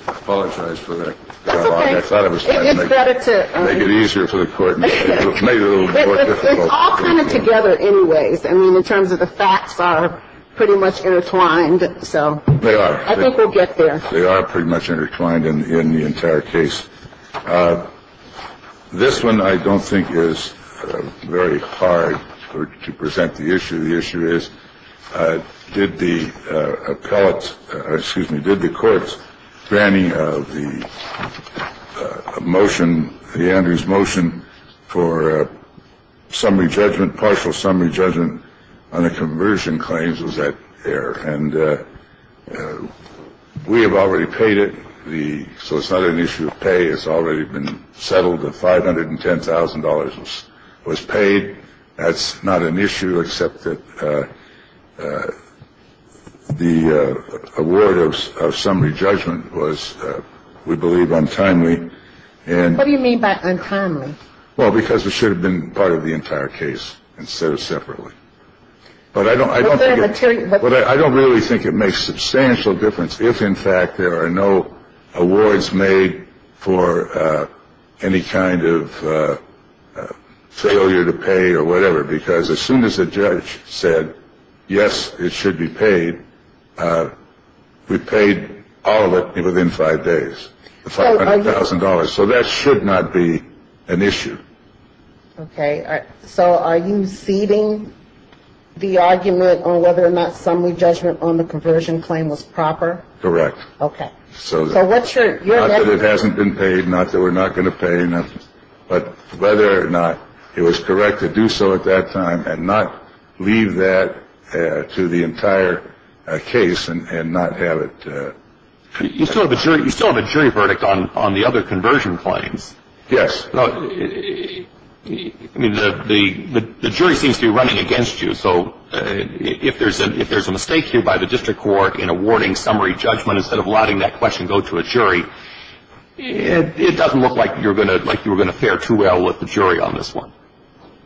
I apologize for that. I thought it was better to make it easier for the court to make it a little more difficult. It's all kind of together anyways. I mean, in terms of the facts are pretty much intertwined. So they are. I think we'll get there. They are pretty much intertwined in the entire case. This one, I don't think, is very hard to present the issue. The issue is, did the appellate excuse me, did the courts granting of the motion, the Andrews motion for summary judgment, partial summary judgment on the conversion claims? Was that there? And we have already paid it. The so it's not an issue of pay. It's already been settled. The five hundred and ten thousand dollars was paid. That's not an issue, except that the award of summary judgment was, we believe, untimely. And what do you mean by untimely? Well, because it should have been part of the entire case instead of separately. But I don't I don't think I don't really think it makes substantial difference. If, in fact, there are no awards made for any kind of failure to pay or whatever, because as soon as a judge said, yes, it should be paid, we paid all of it within five days. Thousand dollars. So that should not be an issue. OK. So are you ceding the argument on whether or not summary judgment on the conversion claim was proper? Correct. OK. So what's your it hasn't been paid? Not that we're not going to pay enough. But whether or not it was correct to do so at that time and not leave that to the entire case and not have it. You still have a jury. You still have a jury verdict on on the other conversion claims. Yes. The jury seems to be running against you. So if there's a if there's a mistake here by the district court in awarding summary judgment instead of letting that question go to a jury, it doesn't look like you're going to like you were going to fare too well with the jury on this one.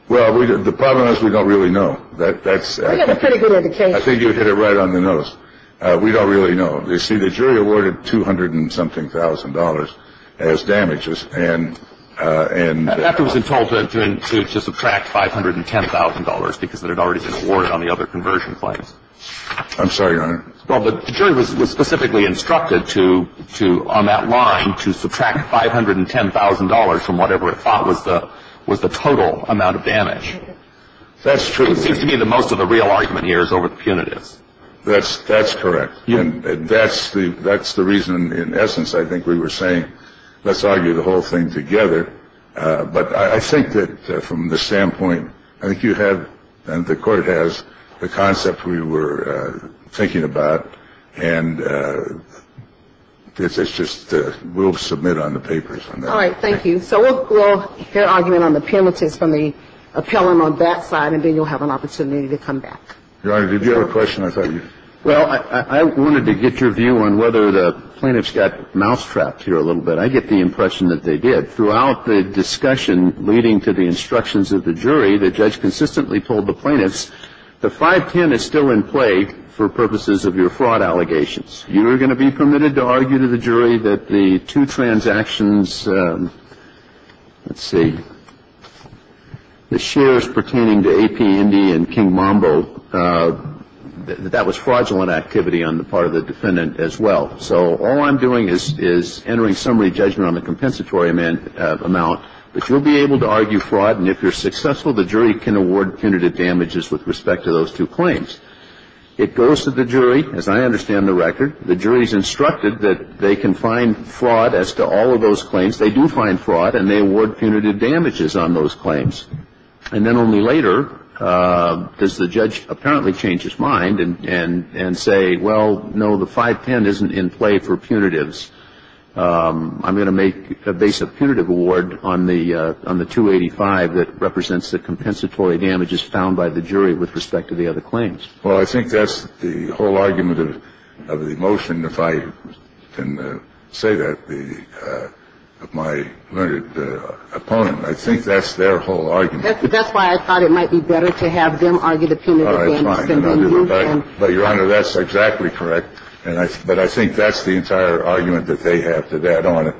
Well, the problem is we don't really know that that's a pretty good indication. I think you hit it right on the nose. We don't really know. You see, the jury awarded two hundred and something thousand dollars as damages. And after it was told to subtract five hundred and ten thousand dollars because that had already been awarded on the other conversion claims. I'm sorry. Well, the jury was specifically instructed to to on that line, to subtract five hundred and ten thousand dollars from whatever it thought was the was the total amount of damage. That's true. To me, the most of the real argument here is over the punitives. That's that's correct. And that's the that's the reason, in essence, I think we were saying, let's argue the whole thing together. But I think that from the standpoint I think you have and the court has the concept we were thinking about. And it's just we'll submit on the papers. All right. Thank you. So we'll hear argument on the penalties from the appellant on that side. And then you'll have an opportunity to come back. Your Honor, did you have a question? Well, I wanted to get your view on whether the plaintiffs got mousetrapped here a little bit. I get the impression that they did. Throughout the discussion leading to the instructions of the jury, the judge consistently told the plaintiffs the 510 is still in play for purposes of your fraud allegations. You are going to be permitted to argue to the jury that the two transactions. Let's see. The shares pertaining to AP, Indy and King Mambo. That was fraudulent activity on the part of the defendant as well. So all I'm doing is is entering summary judgment on the compensatory amount. But you'll be able to argue fraud. And if you're successful, the jury can award punitive damages with respect to those two claims. It goes to the jury. As I understand the record, the jury's instructed that they can find fraud as to all of those claims. They do find fraud and they award punitive damages on those claims. And then only later does the judge apparently change his mind and and and say, well, no, the 510 isn't in play for punitives. I'm going to make a base of punitive award on the on the 285 that represents the compensatory damages found by the jury with respect to the other claims. Well, I think that's the whole argument of the motion. If I can say that the my opponent, I think that's their whole argument. That's why I thought it might be better to have them argue the punitive damages. But Your Honor, that's exactly correct. And I but I think that's the entire argument that they have to that on.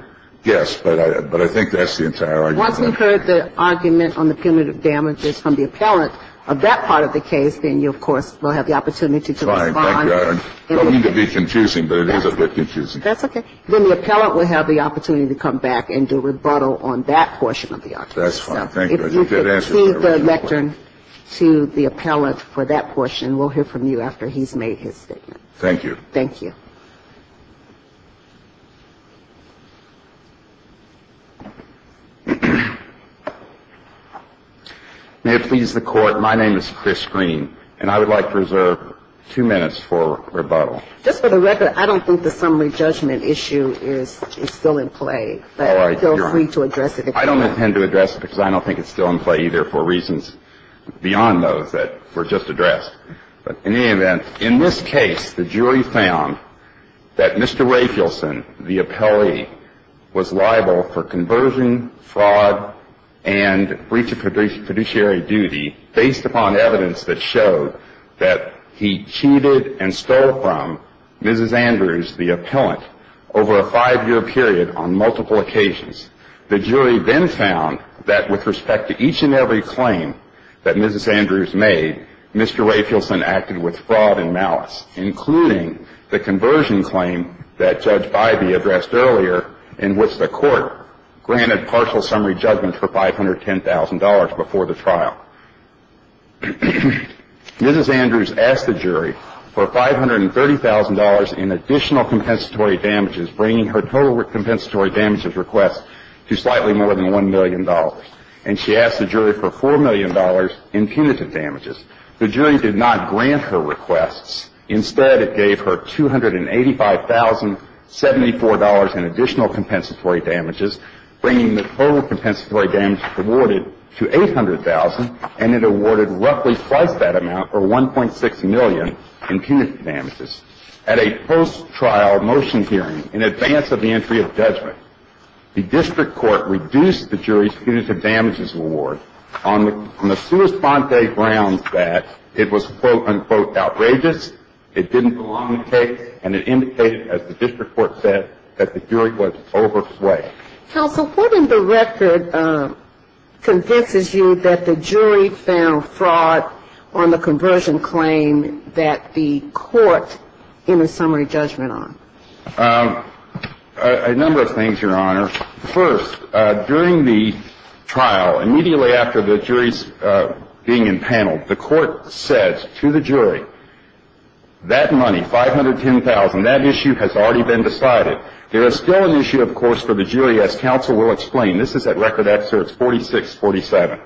Yes. But I but I think that's the entire argument. If you've heard the argument on the punitive damages from the appellant of that part of the case, then you, of course, will have the opportunity to respond. I don't mean to be confusing, but it is a bit confusing. That's OK. Then the appellant will have the opportunity to come back and do rebuttal on that portion of the argument. That's fine. Thank you. To the lectern to the appellant for that portion. We'll hear from you after he's made his statement. Thank you. Thank you. May it please the Court. My name is Chris Green, and I would like to reserve two minutes for rebuttal. Just for the record, I don't think the summary judgment issue is still in play. But feel free to address it if you want. I don't intend to address it because I don't think it's still in play either for reasons beyond those that were just addressed. In this case, the jury found that Mr. Rafelson, the appellee, was liable for conversion, fraud, and breach of fiduciary duty based upon evidence that showed that he cheated and stole from Mrs. Andrews, the appellant, over a five-year period on multiple occasions. The jury then found that with respect to each and every claim that Mrs. Andrews made, Mr. Rafelson acted with fraud and malice, including the conversion claim that Judge Bybee addressed earlier in which the Court granted partial summary judgment for $510,000 before the trial. Mrs. Andrews asked the jury for $530,000 in additional compensatory damages, bringing her total compensatory damages request to slightly more than $1 million. And she asked the jury for $4 million in punitive damages. The jury did not grant her requests. Instead, it gave her $285,074 in additional compensatory damages, bringing the total compensatory damages awarded to $800,000, and it awarded roughly twice that amount, or $1.6 million, in punitive damages. At a post-trial motion hearing, in advance of the entry of judgment, the district court reduced the jury's punitive damages award on the sua sponte grounds that it was, quote, unquote, outrageous, it didn't belong in the case, and it indicated, as the district court said, that the jury was overplayed. Counsel, what in the record convinces you that the jury found fraud on the conversion claim that the court gave a summary judgment on? A number of things, Your Honor. First, during the trial, immediately after the jury's being empaneled, the court said to the jury, that money, $510,000, that issue has already been decided. There is still an issue, of course, for the jury, as counsel will explain. This is at record excerpts 46, 47.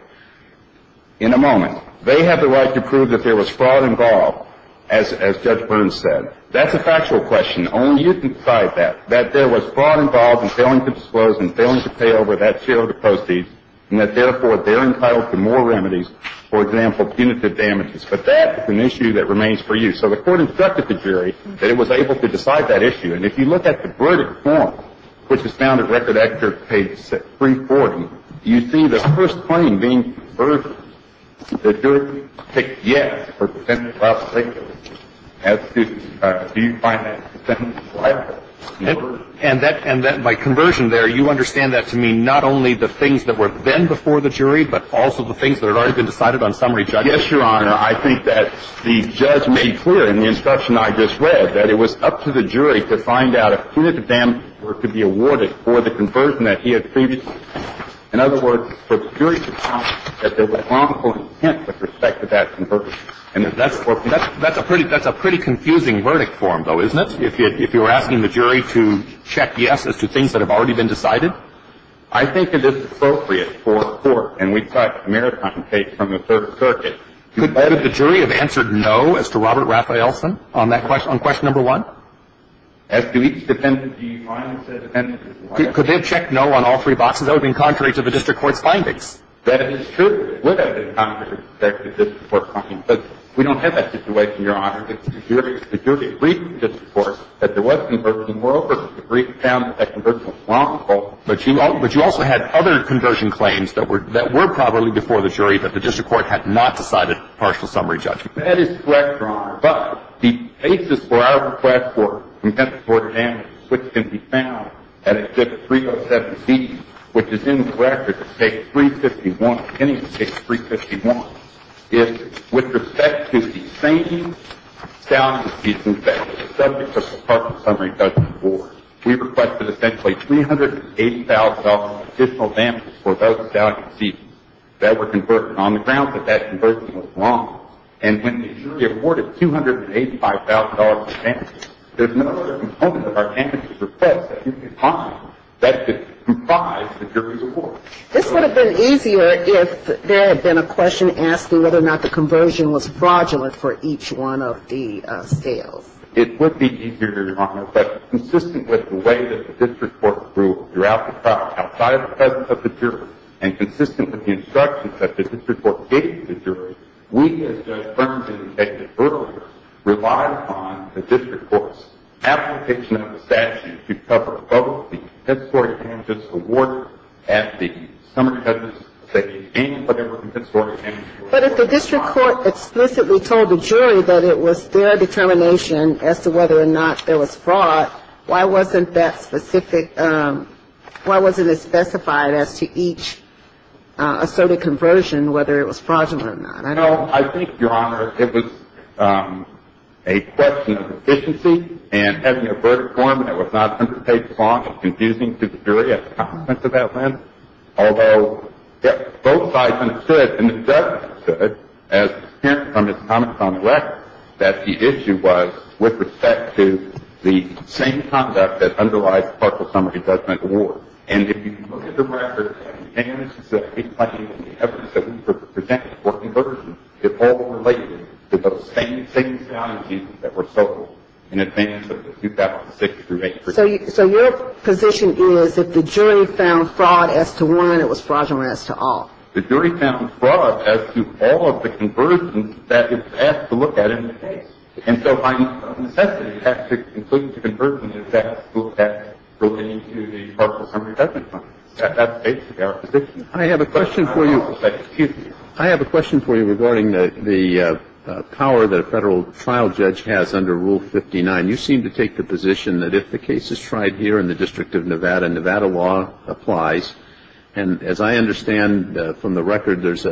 In a moment. They have the right to prove that there was fraud involved, as Judge Burns said. That's a factual question. Only you can decide that, that there was fraud involved in failing to disclose and failing to pay over that share of the proceeds, and that, therefore, they're entitled to more remedies, for example, punitive damages. But that is an issue that remains for you. So the court instructed the jury that it was able to decide that issue. And if you look at the verdict form, which is found at record excerpt page 340, you see the first claim being converged. The jury picked yes for consent to file a statement. As to do you find that consent to file a statement? And that by conversion there, you understand that to mean not only the things that were then before the jury, but also the things that had already been decided on summary judgment? Yes, Your Honor. I think that the judge made clear in the instruction I just read that it was up to the jury to find out if punitive damages were to be awarded for the conversion that he had previously made. In other words, for the jury to find that there was wrongful intent with respect to that conversion. And if that's appropriate. That's a pretty confusing verdict form, though, isn't it, if you were asking the jury to check yes as to things that have already been decided? I think it is appropriate for the court, and we've got a maritime case from the Third Circuit. Could the jury have answered no as to Robert Raphaelson on that question, on question number one? As to each defendant, do you find that said defendant is liable? Could they have checked no on all three boxes? That would be contrary to the district court's findings. That is true. It would have been contrary to the district court's findings. But we don't have that situation, Your Honor. The jury agreed with the district court that there was conversion. Moreover, the jury found that conversion was wrongful. But you also had other conversion claims that were probably before the jury that the district court had not decided partial summary judgment. That is correct, Your Honor. But the basis for our request for compensatory damages, which can be found at exhibit 307B, which is in the record as case 351, pending case 351, is with respect to the same stallion seasons that were subject to partial summary judgment for. We requested essentially $380,000 in additional damages for those stallion seasons that were converted on the grounds that that conversion was wrong. And when the jury awarded $285,000 in damages, there's no other component of our damages or faults that you can find that could comprise the jury's report. This would have been easier if there had been a question asking whether or not the conversion was fraudulent for each one of the scales. It would be easier, Your Honor, but consistent with the way that the district court grew throughout the trial, outside of the presence of the jury, we, as Judge Thurman said earlier, relied upon the district court's application of the statute to cover both the compensatory damages awarded at the summary judgment session and whatever compensatory damages were awarded. But if the district court explicitly told the jury that it was their determination as to whether or not there was fraud, why wasn't that specific — why wasn't it specified as to each assorted conversion, whether it was fraudulent or not? I don't know. I think, Your Honor, it was a question of efficiency and having a verdict form that was not going to take long and confusing to the jury at the extent from his comments on the record that the issue was with respect to the same conduct that underlies the partial summary judgment award. And if you look at the record and the damages that he claimed and the evidence that we presented for conversion, it all related to those same scaling schemes that were sold in advance of the 2006 through 2003. So your position is if the jury found fraud as to one, it was fraudulent as to all? The jury found fraud as to all of the conversions that it's asked to look at in the case. And so by necessity, it has to include the conversion of that school tax relating to the partial summary judgment fund. That's basically our position. I have a question for you. Excuse me. I have a question for you regarding the power that a federal trial judge has under Rule 59. You seem to take the position that if the case is tried here in the District of Nevada, Nevada law applies. And as I understand from the record, there's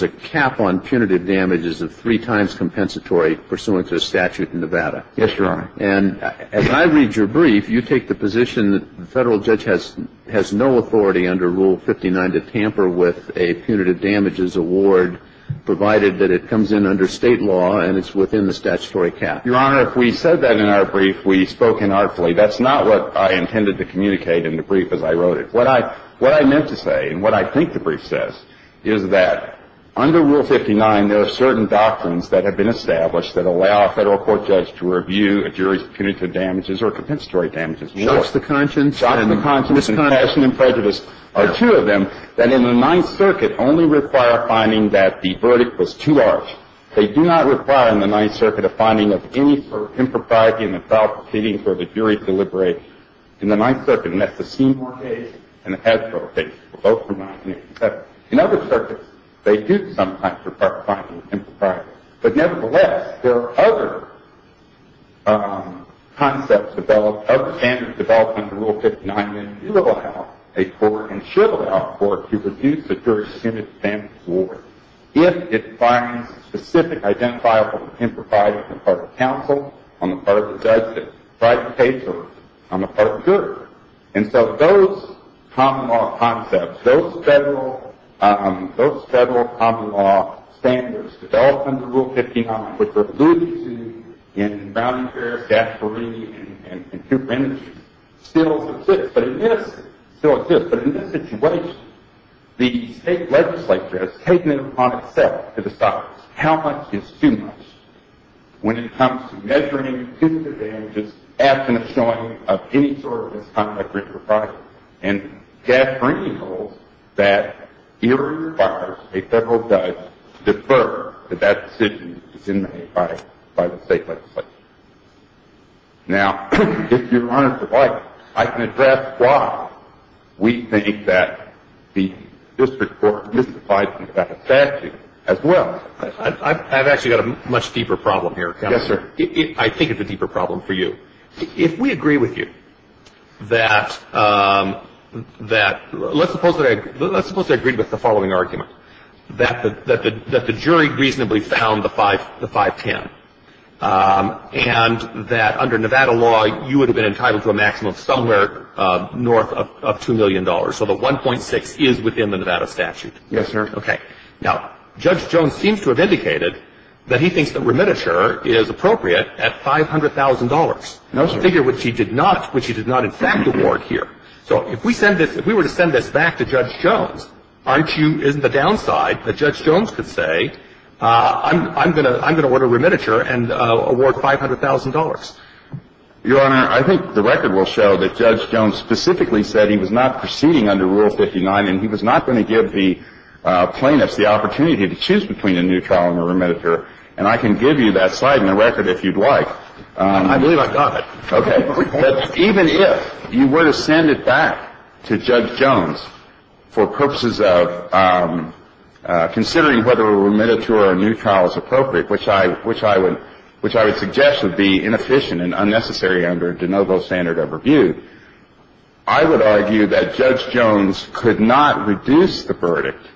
a cap on punitive damages of three times compensatory pursuant to a statute in Nevada. Yes, Your Honor. And as I read your brief, you take the position that the federal judge has no authority under Rule 59 to tamper with a punitive damages award, provided that it comes in under state law and it's within the statutory cap. Your Honor, if we said that in our brief, we spoke inartfully. That's not what I intended to communicate in the brief as I wrote it. What I meant to say and what I think the brief says is that under Rule 59, there are certain doctrines that have been established that allow a federal court judge to review a jury's punitive damages or compensatory damages award. Shocks to conscience. Shocks to conscience and passion and prejudice are two of them that in the Ninth Circuit only require a finding that the verdict was too large. They do not require in the Ninth Circuit a finding of any impropriety in the file proceeding for the jury to deliberate. In the Ninth Circuit, that's the Seymour case and the Hasbro case, both from 1987. In other circuits, they do sometimes require finding of impropriety. But nevertheless, there are other concepts developed, other standards developed under Rule 59 that do allow a court and should allow a court to review the jury's punitive damages award if it finds specific identifiable impropriety on the part of counsel, on the part of the judge, or on the part of the jury. And so those common law concepts, those federal common law standards developed under Rule 59, which were alluded to in Browning Fair, Gasparini, and Cooper Energy, still exist. But in this situation, the state legislature has taken it upon itself to decide how much is too much when it comes to measuring punitive damages absent of showing of any sort of misconduct or impropriety. And Gasparini holds that if it requires a federal judge to defer, that that decision is in the hand of the state legislature. Now, if Your Honor would like, I can address why we think that the district court misapplied the statute as well. I've actually got a much deeper problem here. Yes, sir. I think it's a deeper problem for you. If we agree with you that let's suppose they agreed with the following argument, that the jury reasonably found the 510 and that under Nevada law, you would have been entitled to a maximum somewhere north of $2 million. So the 1.6 is within the Nevada statute. Yes, sir. Okay. Now, Judge Jones seems to have indicated that he thinks that remittiture is appropriate at $500,000. No, sir. A figure which he did not in fact award here. So if we were to send this back to Judge Jones, isn't the downside that Judge Jones could say I'm going to order remittiture and award $500,000? Your Honor, I think the record will show that Judge Jones specifically said he was not proceeding under Rule 59 and he was not going to give the plaintiffs the opportunity to choose between a new trial and a remittiture. And I can give you that slide in the record if you'd like. I believe I've got it. Okay. Even if you were to send it back to Judge Jones for purposes of considering whether a remittiture or a new trial is appropriate, which I would suggest would be inefficient and unnecessary under de novo standard of review, I would argue that Judge Jones could not reduce the verdict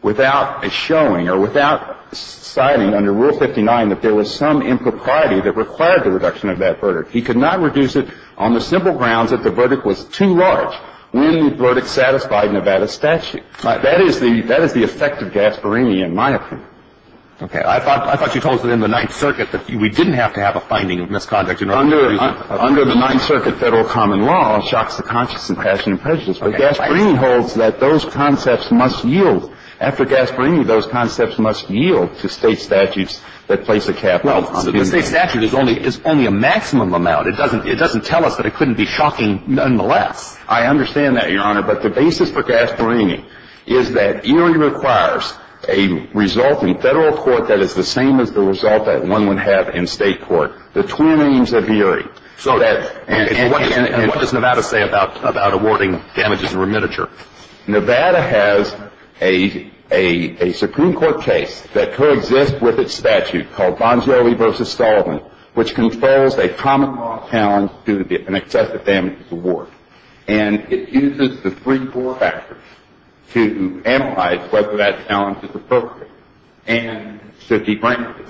without a showing or without citing under Rule 59 that there was some impropriety that required the reduction of that verdict. He could not reduce it on the simple grounds that the verdict was too large. When the verdict satisfied Nevada statute, that is the effect of Gasparini in my opinion. Okay. I thought you told us that in the Ninth Circuit that we didn't have to have a finding of misconduct. Under the Ninth Circuit, federal common law shocks the conscience and passion and prejudice. But Gasparini holds that those concepts must yield. After Gasparini, those concepts must yield to state statutes that place a cap on them. Well, the state statute is only a maximum amount. It doesn't tell us that it couldn't be shocking nonetheless. I understand that, Your Honor. But the basis for Gasparini is that ERIE requires a result in federal court that is the same as the result that one would have in state court. The twin names of ERIE. And what does Nevada say about awarding damages in remittiture? Nevada has a Supreme Court case that coexists with its statute called Bongioli v. Sullivan, which controls a common law challenge due to an excessive damages award. And it uses the three core factors to analyze whether that challenge is appropriate and should be granted.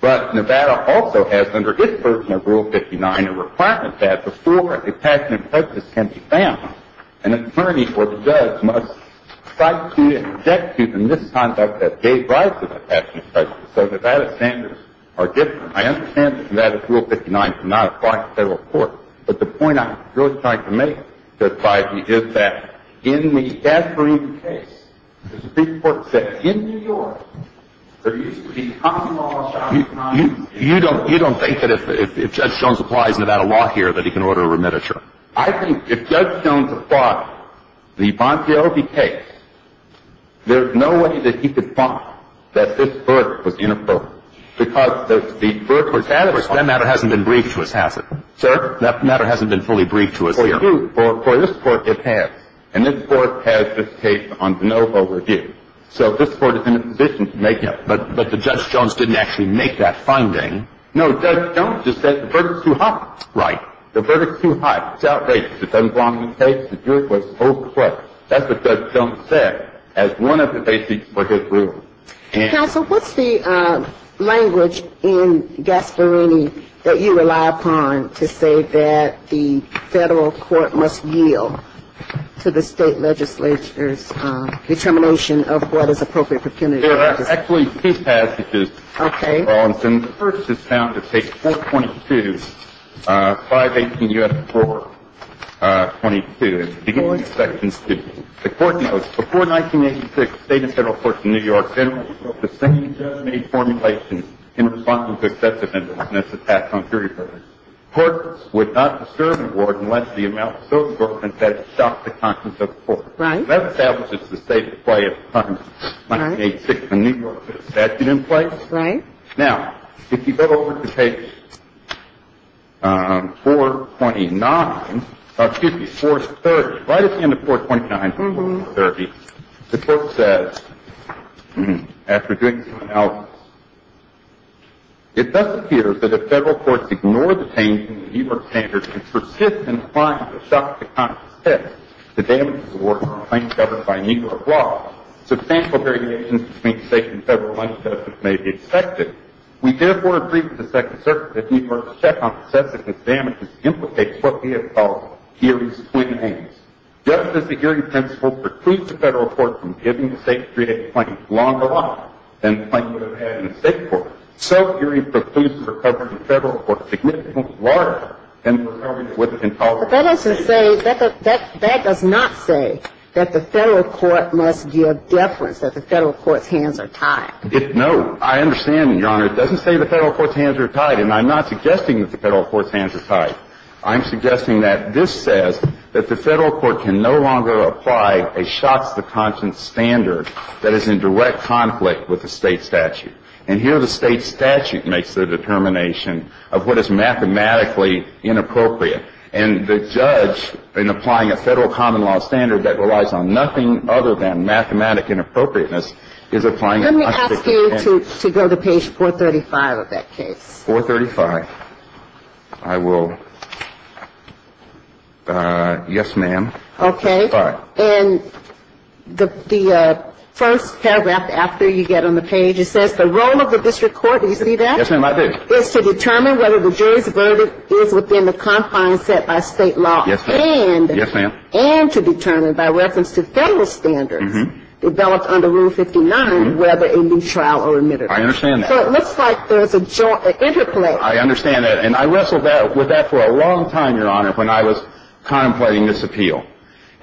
But Nevada also has, under its version of Rule 59, a requirement that before a passion and prejudice can be found, an attorney or the judge must cite to and object to the misconduct that gave rise to the passion and prejudice. So Nevada's standards are different. I understand that Nevada's Rule 59 cannot apply to federal court. But the point I'm really trying to make, Judge Feige, is that in the Gasparini case, the Supreme Court said in New York, there used to be a common law challenge. You don't think that if Judge Jones applies Nevada law here that he can order a remittiture? I think if Judge Jones applied the Bongioli case, there's no way that he could find that this verdict was uniform. Because the verdict was adverse. That matter hasn't been briefed to us, has it? Sir? That matter hasn't been fully briefed to us here. For this court, it has. And this court has this case on de novo review. So this court is in a position to make that. But Judge Jones didn't actually make that finding. No, Judge Jones just said the verdict's too hot. Right. The verdict's too hot. It's outrageous. It doesn't belong in this case. The jury was overplayed. That's what Judge Jones said as one of the basics for his rule. Counsel, what's the language in Gasparini that you rely upon to say that the federal court must yield to the state legislature's determination of what is appropriate for Kennedy? There are actually two passages. Okay. The first is found in page 422, 518 U.S. 422. The court notes, before 1986, the State and Federal Courts of New York generally wrote the same termination formulation in response to successive instances of tax on jury verdicts. Courts would not disturb the court unless the amount of sodium was broken that shocked the conscience of the court. Right. That establishes the state's play of punishment. Right. In 1986, the New York state statute in place. Right. Now, if you go over to page 429. Excuse me, 430. Right at the end of 429, 430, the court says, after doing some analysis, it thus appears that if federal courts ignore the change in the New York standards and persist in trying to shock the conscience, the damage is awarded to a plaintiff governed by New York law. Substantial variations between state and federal plaintiffs may be expected. We therefore agree with the Second Circuit that New York's check on the subsequent damages implicates what we have called the jury's twin aims. Just as the jury principle precludes the federal court from giving the state to create a claim longer life than the claim would have had in a state court, so jury precludes the recovery of the federal court significantly larger than the recovery that would have been tolerated. But that doesn't say, that does not say that the federal court must give deference, that the federal court's hands are tied. No. I understand, Your Honor. It doesn't say the federal court's hands are tied. And I'm not suggesting that the federal court's hands are tied. I'm suggesting that this says that the federal court can no longer apply a shock to the conscience standard that is in direct conflict with the state statute. And here the state statute makes the determination of what is mathematically inappropriate. And the judge, in applying a federal common law standard that relies on nothing other than mathematic inappropriateness, is applying unspecified. Let me ask you to go to page 435 of that case. 435. I will. Yes, ma'am. Okay. All right. And the first paragraph after you get on the page, it says the role of the district court, do you see that? Yes, ma'am, I do. It's to determine whether the jury's verdict is within the confines set by state law. Yes, ma'am. Yes, ma'am. And to determine by reference to federal standards developed under Rule 59 whether a new trial or admittance. I understand that. So it looks like there's an interplay. I understand that. And I wrestled with that for a long time, Your Honor, when I was contemplating this appeal.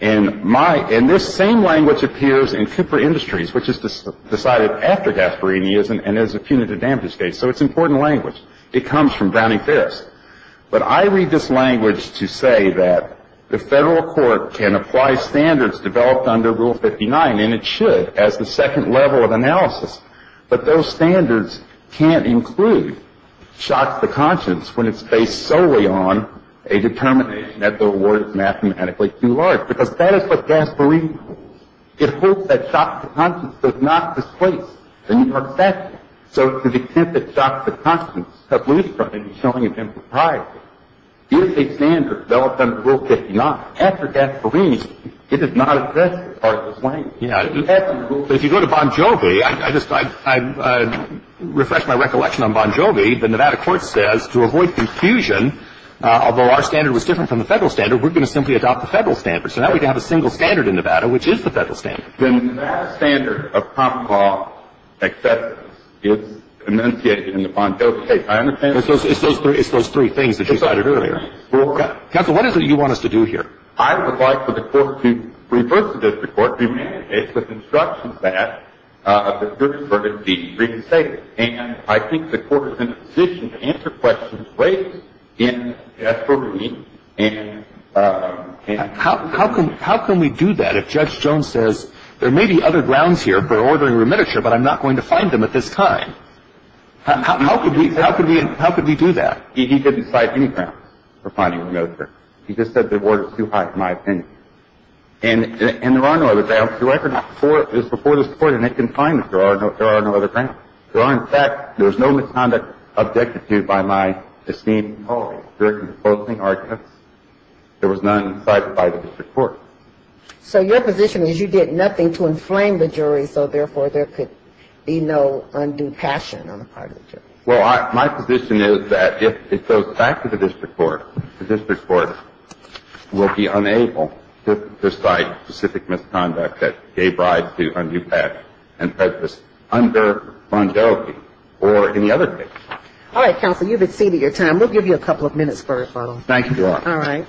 And my — and this same language appears in Cooper Industries, which is decided after Gasparini is, and is a punitive damages case. So it's important language. It comes from Browning-Ferris. But I read this language to say that the federal court can apply standards developed under Rule 59, and it should, as the second level of analysis. But those standards can't include shots to conscience when it's based solely on a determination that the award is mathematically too large. Because that is what Gasparini holds. It holds that shots to conscience does not displace the New York statute. So to the extent that shots to conscience have loosed from it is showing it's impropriety. If a standard developed under Rule 59, after Gasparini, it does not address this part of the slang. Yeah. If you go to Bon Jovi, I just — I refreshed my recollection on Bon Jovi. The Nevada court says to avoid confusion, although our standard was different from the federal standard, we're going to simply adopt the federal standard. So now we don't have a single standard in Nevada, which is the federal standard. The Nevada standard of prompt law acceptance is enunciated in the Bon Jovi case. I understand that. It's those three things that you cited earlier. Counsel, what is it you want us to do here? I would like for the court to reverse it as the court demands. It's the construction of that, of the good and virtue of the state. And I think the court is in a position to answer questions raised in Gasparini and — How can we do that if Judge Jones says, there may be other grounds here for ordering a remittiture, but I'm not going to find them at this time? How could we do that? He didn't cite any grounds for finding a remittiture. He just said the order was too high, in my opinion. And there are no other grounds. The record is before the Supreme Court, and it can find them. There are no other grounds. There are, in fact — there is no misconduct objected to by my esteemed colleagues. There are composing arguments. There was none cited by the district court. So your position is you did nothing to inflame the jury, so therefore there could be no undue passion on the part of the jury. Well, my position is that if it goes back to the district court, the district court will be unable to cite specific misconduct that gave rise to undue passion and prejudice under longevity or any other case. All right, Counsel, you've exceeded your time. We'll give you a couple of minutes for referral. Thank you. All right.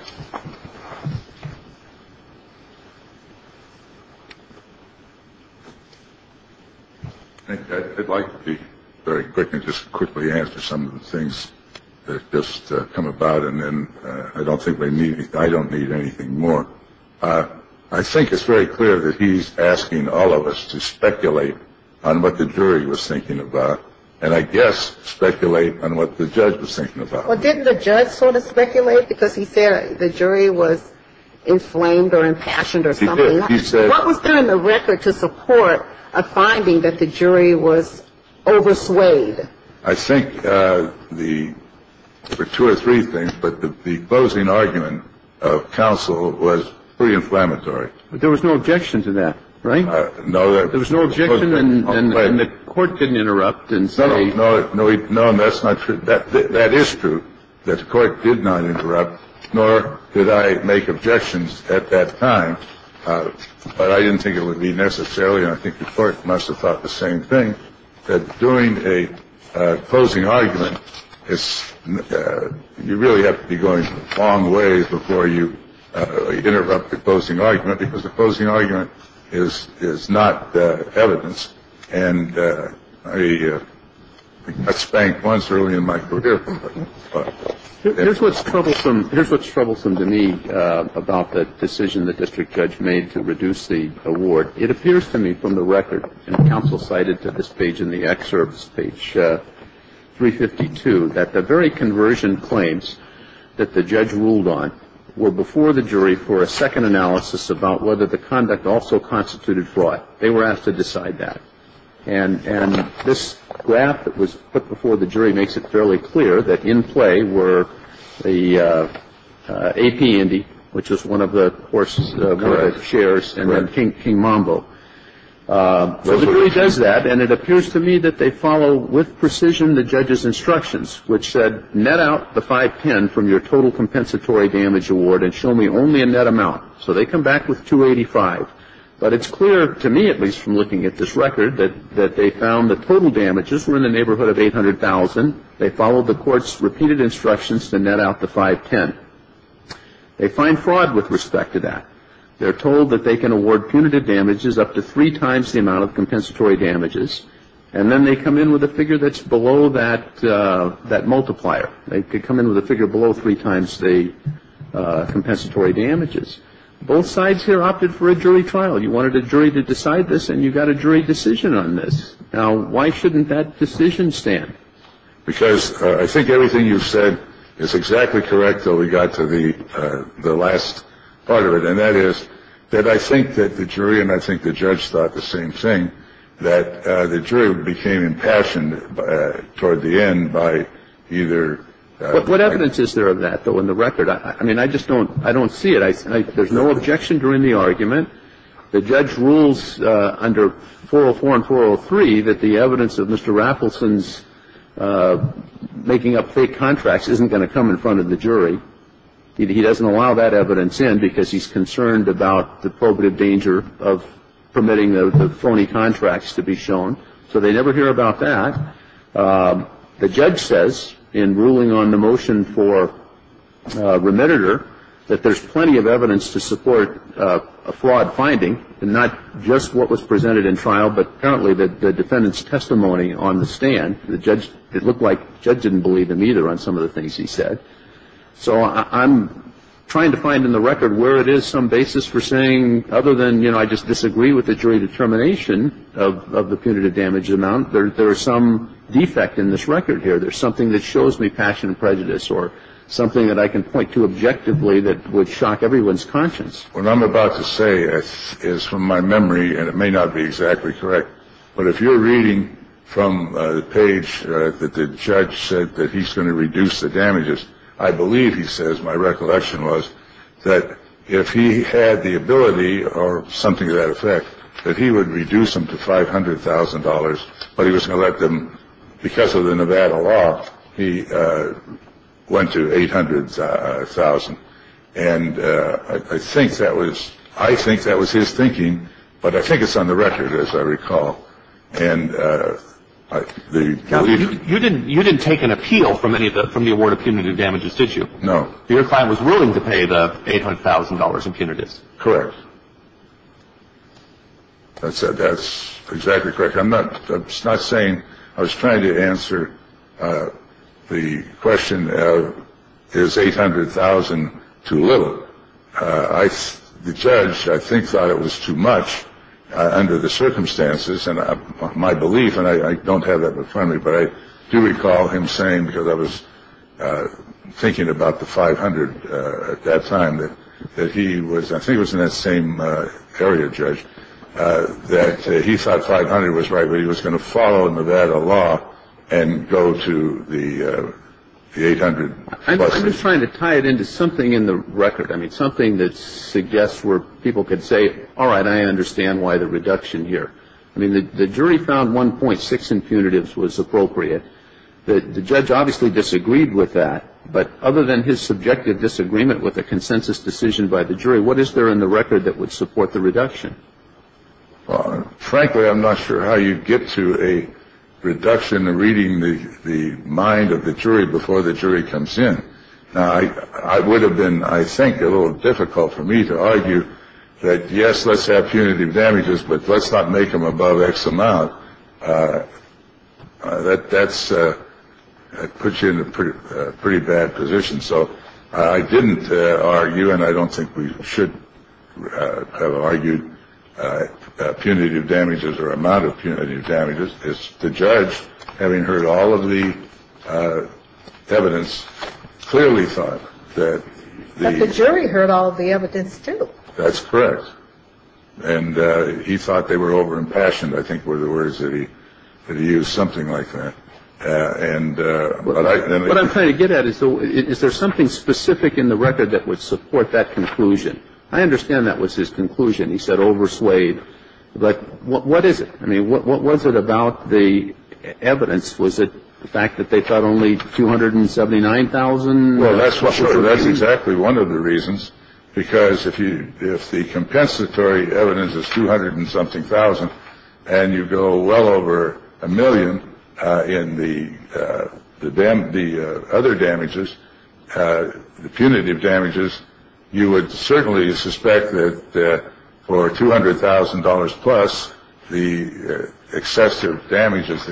I'd like to be very quick and just quickly answer some of the things that just come about, and then I don't think I need anything more. I think it's very clear that he's asking all of us to speculate on what the jury was thinking about and, I guess, speculate on what the judge was thinking about. Well, didn't the judge sort of speculate because he said the jury was inflamed or impassioned or something? He did. What was there in the record to support a finding that the jury was overswayed? I think there were two or three things, but the opposing argument of counsel was pretty inflammatory. But there was no objection to that, right? No. There was no objection, and the court didn't interrupt and say. No, no, no. That's not true. That is true. The court did not interrupt, nor did I make objections at that time. But I didn't think it would be necessary. And I think the court must have thought the same thing. Doing a opposing argument is you really have to be going long ways before you interrupt opposing argument, because opposing argument is not evidence. And I got spanked once early in my career. Here's what's troublesome to me about the decision the district judge made to reduce the award. It appears to me from the record, and counsel cited to this page in the excerpts, page 352, that the very conversion claims that the judge ruled on were before the jury for a second analysis about whether the conduct also constituted fraud. They were asked to decide that. And this graph that was put before the jury makes it fairly clear that in play were the AP Indy, which was one of the horse shares, and then King Mambo. So the jury does that, and it appears to me that they follow with precision the judge's instructions, which said net out the 510 from your total compensatory damage award and show me only a net amount. So they come back with 285. But it's clear to me, at least from looking at this record, that they found the total damages were in the neighborhood of 800,000. They followed the court's repeated instructions to net out the 510. They find fraud with respect to that. They're told that they can award punitive damages up to three times the amount of compensatory damages. And then they come in with a figure that's below that multiplier. They come in with a figure below three times the compensatory damages. Both sides here opted for a jury trial. You wanted a jury to decide this, and you got a jury decision on this. Now, why shouldn't that decision stand? Because I think everything you've said is exactly correct, though we got to the last part of it, and that is that I think that the jury and I think the judge thought the same thing, that the jury became impassioned toward the end by either ---- But what evidence is there of that, though, in the record? I mean, I just don't see it. There's no objection during the argument. The judge rules under 404 and 403 that the evidence of Mr. Rappleson's making up fake contracts isn't going to come in front of the jury. He doesn't allow that evidence in because he's concerned about the probative danger of permitting the phony contracts to be shown. So they never hear about that. The judge says in ruling on the motion for remediator that there's plenty of evidence to support a fraud finding, and not just what was presented in trial, but currently the defendant's testimony on the stand. The judge ---- it looked like the judge didn't believe him either on some of the things he said. So I'm trying to find in the record where it is some basis for saying other than, you know, I just disagree with the jury determination of the punitive damage amount. There is some defect in this record here. There's something that shows me passion and prejudice or something that I can point to objectively that would shock everyone's conscience. What I'm about to say is from my memory, and it may not be exactly correct, but if you're reading from the page that the judge said that he's going to reduce the damages, I believe he says my recollection was that if he had the ability or something to that effect, that he would reduce them to $500,000, but he was going to let them, because of the Nevada law, he went to $800,000. And I think that was his thinking, but I think it's on the record, as I recall. You didn't take an appeal from the award of punitive damages, did you? No. Your client was willing to pay the $800,000 in punitives. Correct. That's exactly correct. I'm not saying I was trying to answer the question, is $800,000 too little? The judge, I think, thought it was too much under the circumstances and my belief, and I don't have that before me, but I do recall him saying, because I was thinking about the $500,000 at that time, that he was, I think it was in that same area, Judge, that he thought $500,000 was right, but he was going to follow Nevada law and go to the $800,000. I'm just trying to tie it into something in the record, I mean, something that suggests where people could say, all right, I understand why the reduction here. I mean, the jury found 1.6 in punitives was appropriate. The judge obviously disagreed with that, but other than his subjective disagreement with a consensus decision by the jury, what is there in the record that would support the reduction? Frankly, I'm not sure how you get to a reduction in reading the mind of the jury before the jury comes in. Now, I would have been, I think, a little difficult for me to argue that, yes, let's have punitive damages, but let's not make them above X amount. That that's puts you in a pretty bad position. So I didn't argue and I don't think we should have argued punitive damages or amount of punitive damages. The judge, having heard all of the evidence, clearly thought that the jury heard all the evidence. That's correct. And he thought they were over impassioned. I think were the words that he used, something like that. And what I'm trying to get at is, is there something specific in the record that would support that conclusion? I understand that was his conclusion. He said overswayed. But what is it? I mean, what was it about the evidence? Was it the fact that they thought only 279,000? Well, that's what that's exactly one of the reasons. Because if you if the compensatory evidence is two hundred and something thousand and you go well over a million in the dam, the other damages, the punitive damages, you would certainly suspect that for two hundred thousand dollars plus the excessive damages,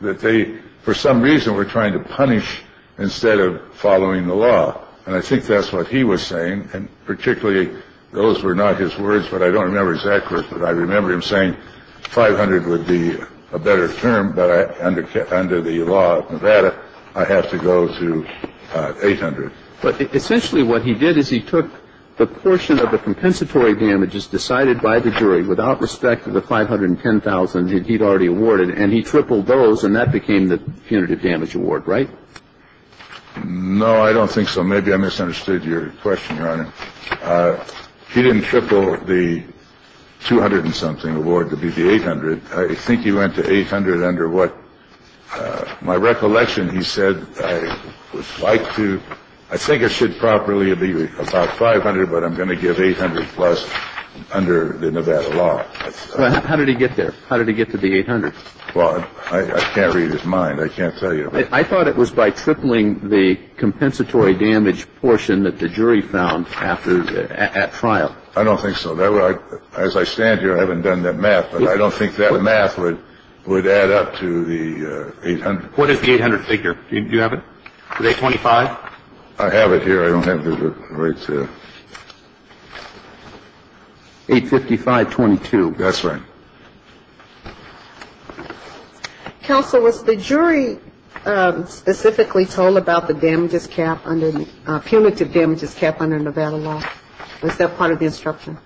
that they for some reason were trying to punish instead of following the law. And I think that's what he was saying. And particularly those were not his words. But I don't remember exactly what I remember him saying. Five hundred would be a better term. But under the law of Nevada, I have to go to eight hundred. But essentially what he did is he took the portion of the compensatory damages decided by the jury without respect to the five hundred and ten thousand he'd already awarded and he tripled those and that became the punitive damage award. Right. No, I don't think so. Maybe I misunderstood your question, Your Honor. He didn't triple the two hundred and something award to be the eight hundred. I think he went to eight hundred under what my recollection. He said I would like to I think it should properly be about five hundred. But I'm going to give eight hundred plus under the Nevada law. How did he get there? How did he get to the eight hundred? Well, I can't read his mind. I can't tell you. I thought it was by tripling the compensatory damage portion that the jury found after at trial. I don't think so. As I stand here, I haven't done that math, but I don't think that math would would add up to the eight hundred. What is the eight hundred figure? Do you have it? Twenty five. I have it here. I don't have the right to. Eight fifty five. Twenty two. That's right. Counsel was the jury specifically told about the damages cap under the punitive damages cap under Nevada law. Was that part of the instruction?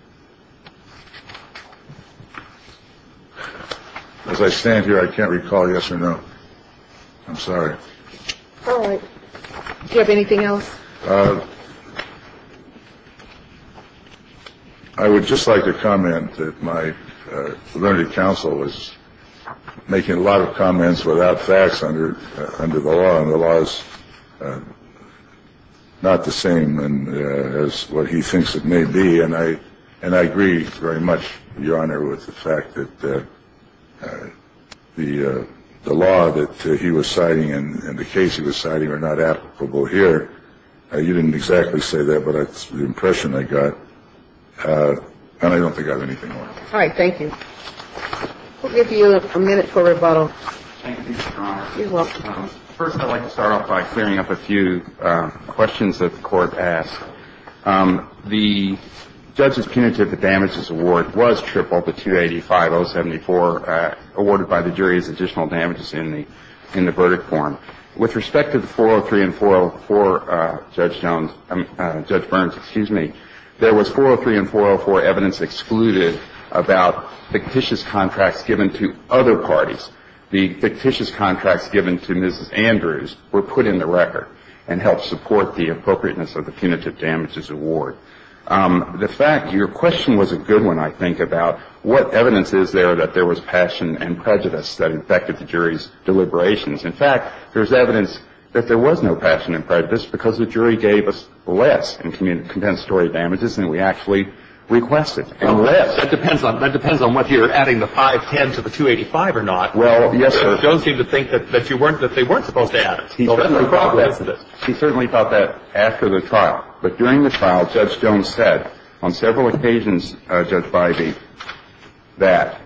As I stand here, I can't recall. Yes or no. I'm sorry. Do you have anything else? I would just like to comment that my learned counsel was making a lot of comments without facts under under the law. I'm not the same as what he thinks it may be. And I and I agree very much, Your Honor, with the fact that the law that he was citing and the case he was citing are not applicable here. You didn't exactly say that, but that's the impression I got. I don't think I've anything. All right. Thank you. We'll give you a minute for rebuttal. First, I'd like to start off by clearing up a few questions that the court asked. The judge's punitive damages award was tripled to 285, 074, awarded by the jury as additional damages in the in the verdict form. With respect to the 403 and 404, Judge Jones, Judge Burns, excuse me, there was 403 and 404 evidence excluded about fictitious contracts given to other parties. The fictitious contracts given to Mrs. Andrews were put in the record and helped support the appropriateness of the punitive damages award. The fact your question was a good one, I think, about what evidence is there that there was passion and prejudice that affected the jury's deliberations. In fact, there's evidence that there was no passion and prejudice because the jury gave us less in compensatory damages than we actually requested, and less. Well, that depends on whether you're adding the 510 to the 285 or not. Well, yes, sir. But Jones seemed to think that they weren't supposed to add it. He certainly thought that after the trial. But during the trial, Judge Jones said on several occasions, Judge Bybee, that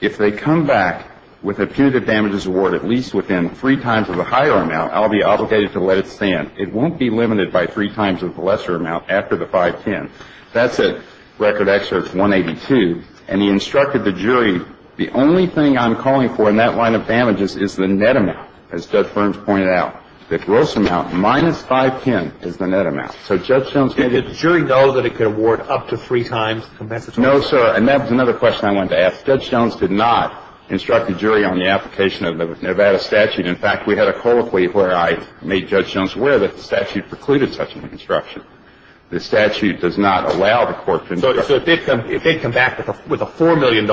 if they come back with a punitive damages award at least within three times of the higher amount, I'll be obligated to let it stand. It won't be limited by three times of the lesser amount after the 510. That's at record excerpt 182. And he instructed the jury, the only thing I'm calling for in that line of damages is the net amount, as Judge Ferns pointed out. The gross amount minus 510 is the net amount. So Judge Jones did it. Did the jury know that it could award up to three times compensatory damages? No, sir. And that was another question I wanted to ask. Judge Jones did not instruct the jury on the application of the Nevada statute. In fact, we had a colloquy where I made Judge Jones aware that the statute precluded such an instruction. The statute does not allow the court to instruct. So if they'd come back with a $4 million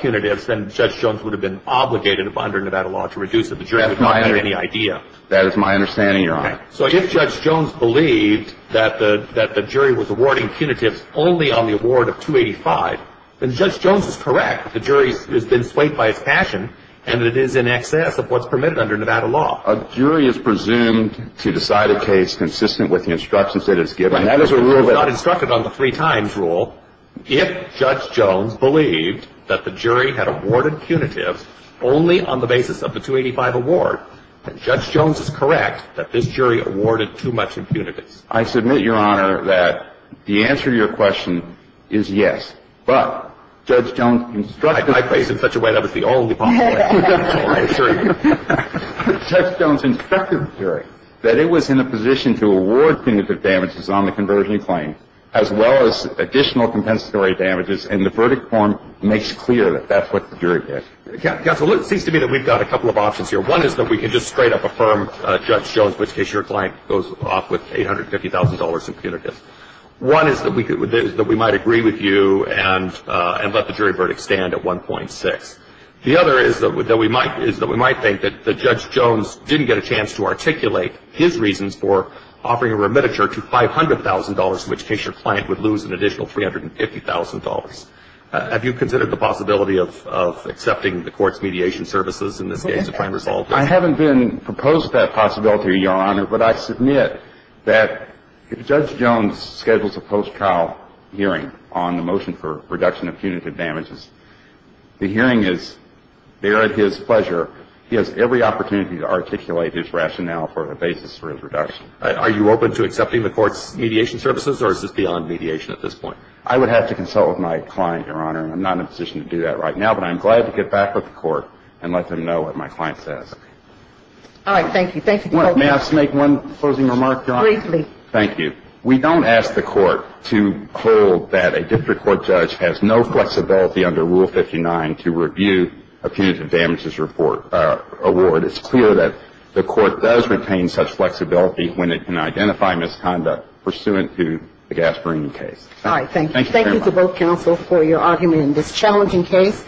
punitive, then Judge Jones would have been obligated under Nevada law to reduce it. The jury would not have had any idea. That is my understanding, Your Honor. So if Judge Jones believed that the jury was awarding punitives only on the award of 285, then Judge Jones is correct. The jury has been swayed by its passion, and it is in excess of what's permitted under Nevada law. A jury is presumed to decide a case consistent with the instructions that it's given. And that is a rule that's not instructed on the three-times rule. If Judge Jones believed that the jury had awarded punitives only on the basis of the 285 award, then Judge Jones is correct that this jury awarded too much impunities. I submit, Your Honor, that the answer to your question is yes. But Judge Jones instructed the jury. I phrased it in such a way that was the only possible answer. Judge Jones instructed the jury that it was in a position to award punitive damages on the converging claim, as well as additional compensatory damages, and the verdict form makes clear that that's what the jury did. Counsel, it seems to me that we've got a couple of options here. One is that we could just straight-up affirm Judge Jones, in which case your client goes off with $850,000 in punitives. One is that we might agree with you and let the jury verdict stand at 1.6. The other is that we might think that Judge Jones didn't get a chance to articulate his reasons for offering a remititure to $500,000, in which case your client would lose an additional $350,000. Have you considered the possibility of accepting the court's mediation services in this case to try and resolve this? I haven't been proposed that possibility, Your Honor. But I submit that if Judge Jones schedules a post-trial hearing on the motion for reduction of punitive damages, the hearing is there at his pleasure. He has every opportunity to articulate his rationale for the basis for his reduction. Are you open to accepting the court's mediation services, or is this beyond mediation at this point? I would have to consult with my client, Your Honor. I'm not in a position to do that right now, but I'm glad to get back with the court and let them know what my client says. All right. Thank you. Thank you. May I just make one closing remark? Briefly. Thank you. We don't ask the court to hold that a district court judge has no flexibility under Rule 59 to review a punitive damages award. It's clear that the court does retain such flexibility when it can identify misconduct pursuant to the Gasparini case. All right. Thank you. Thank you to both counsel for your argument in this challenging case.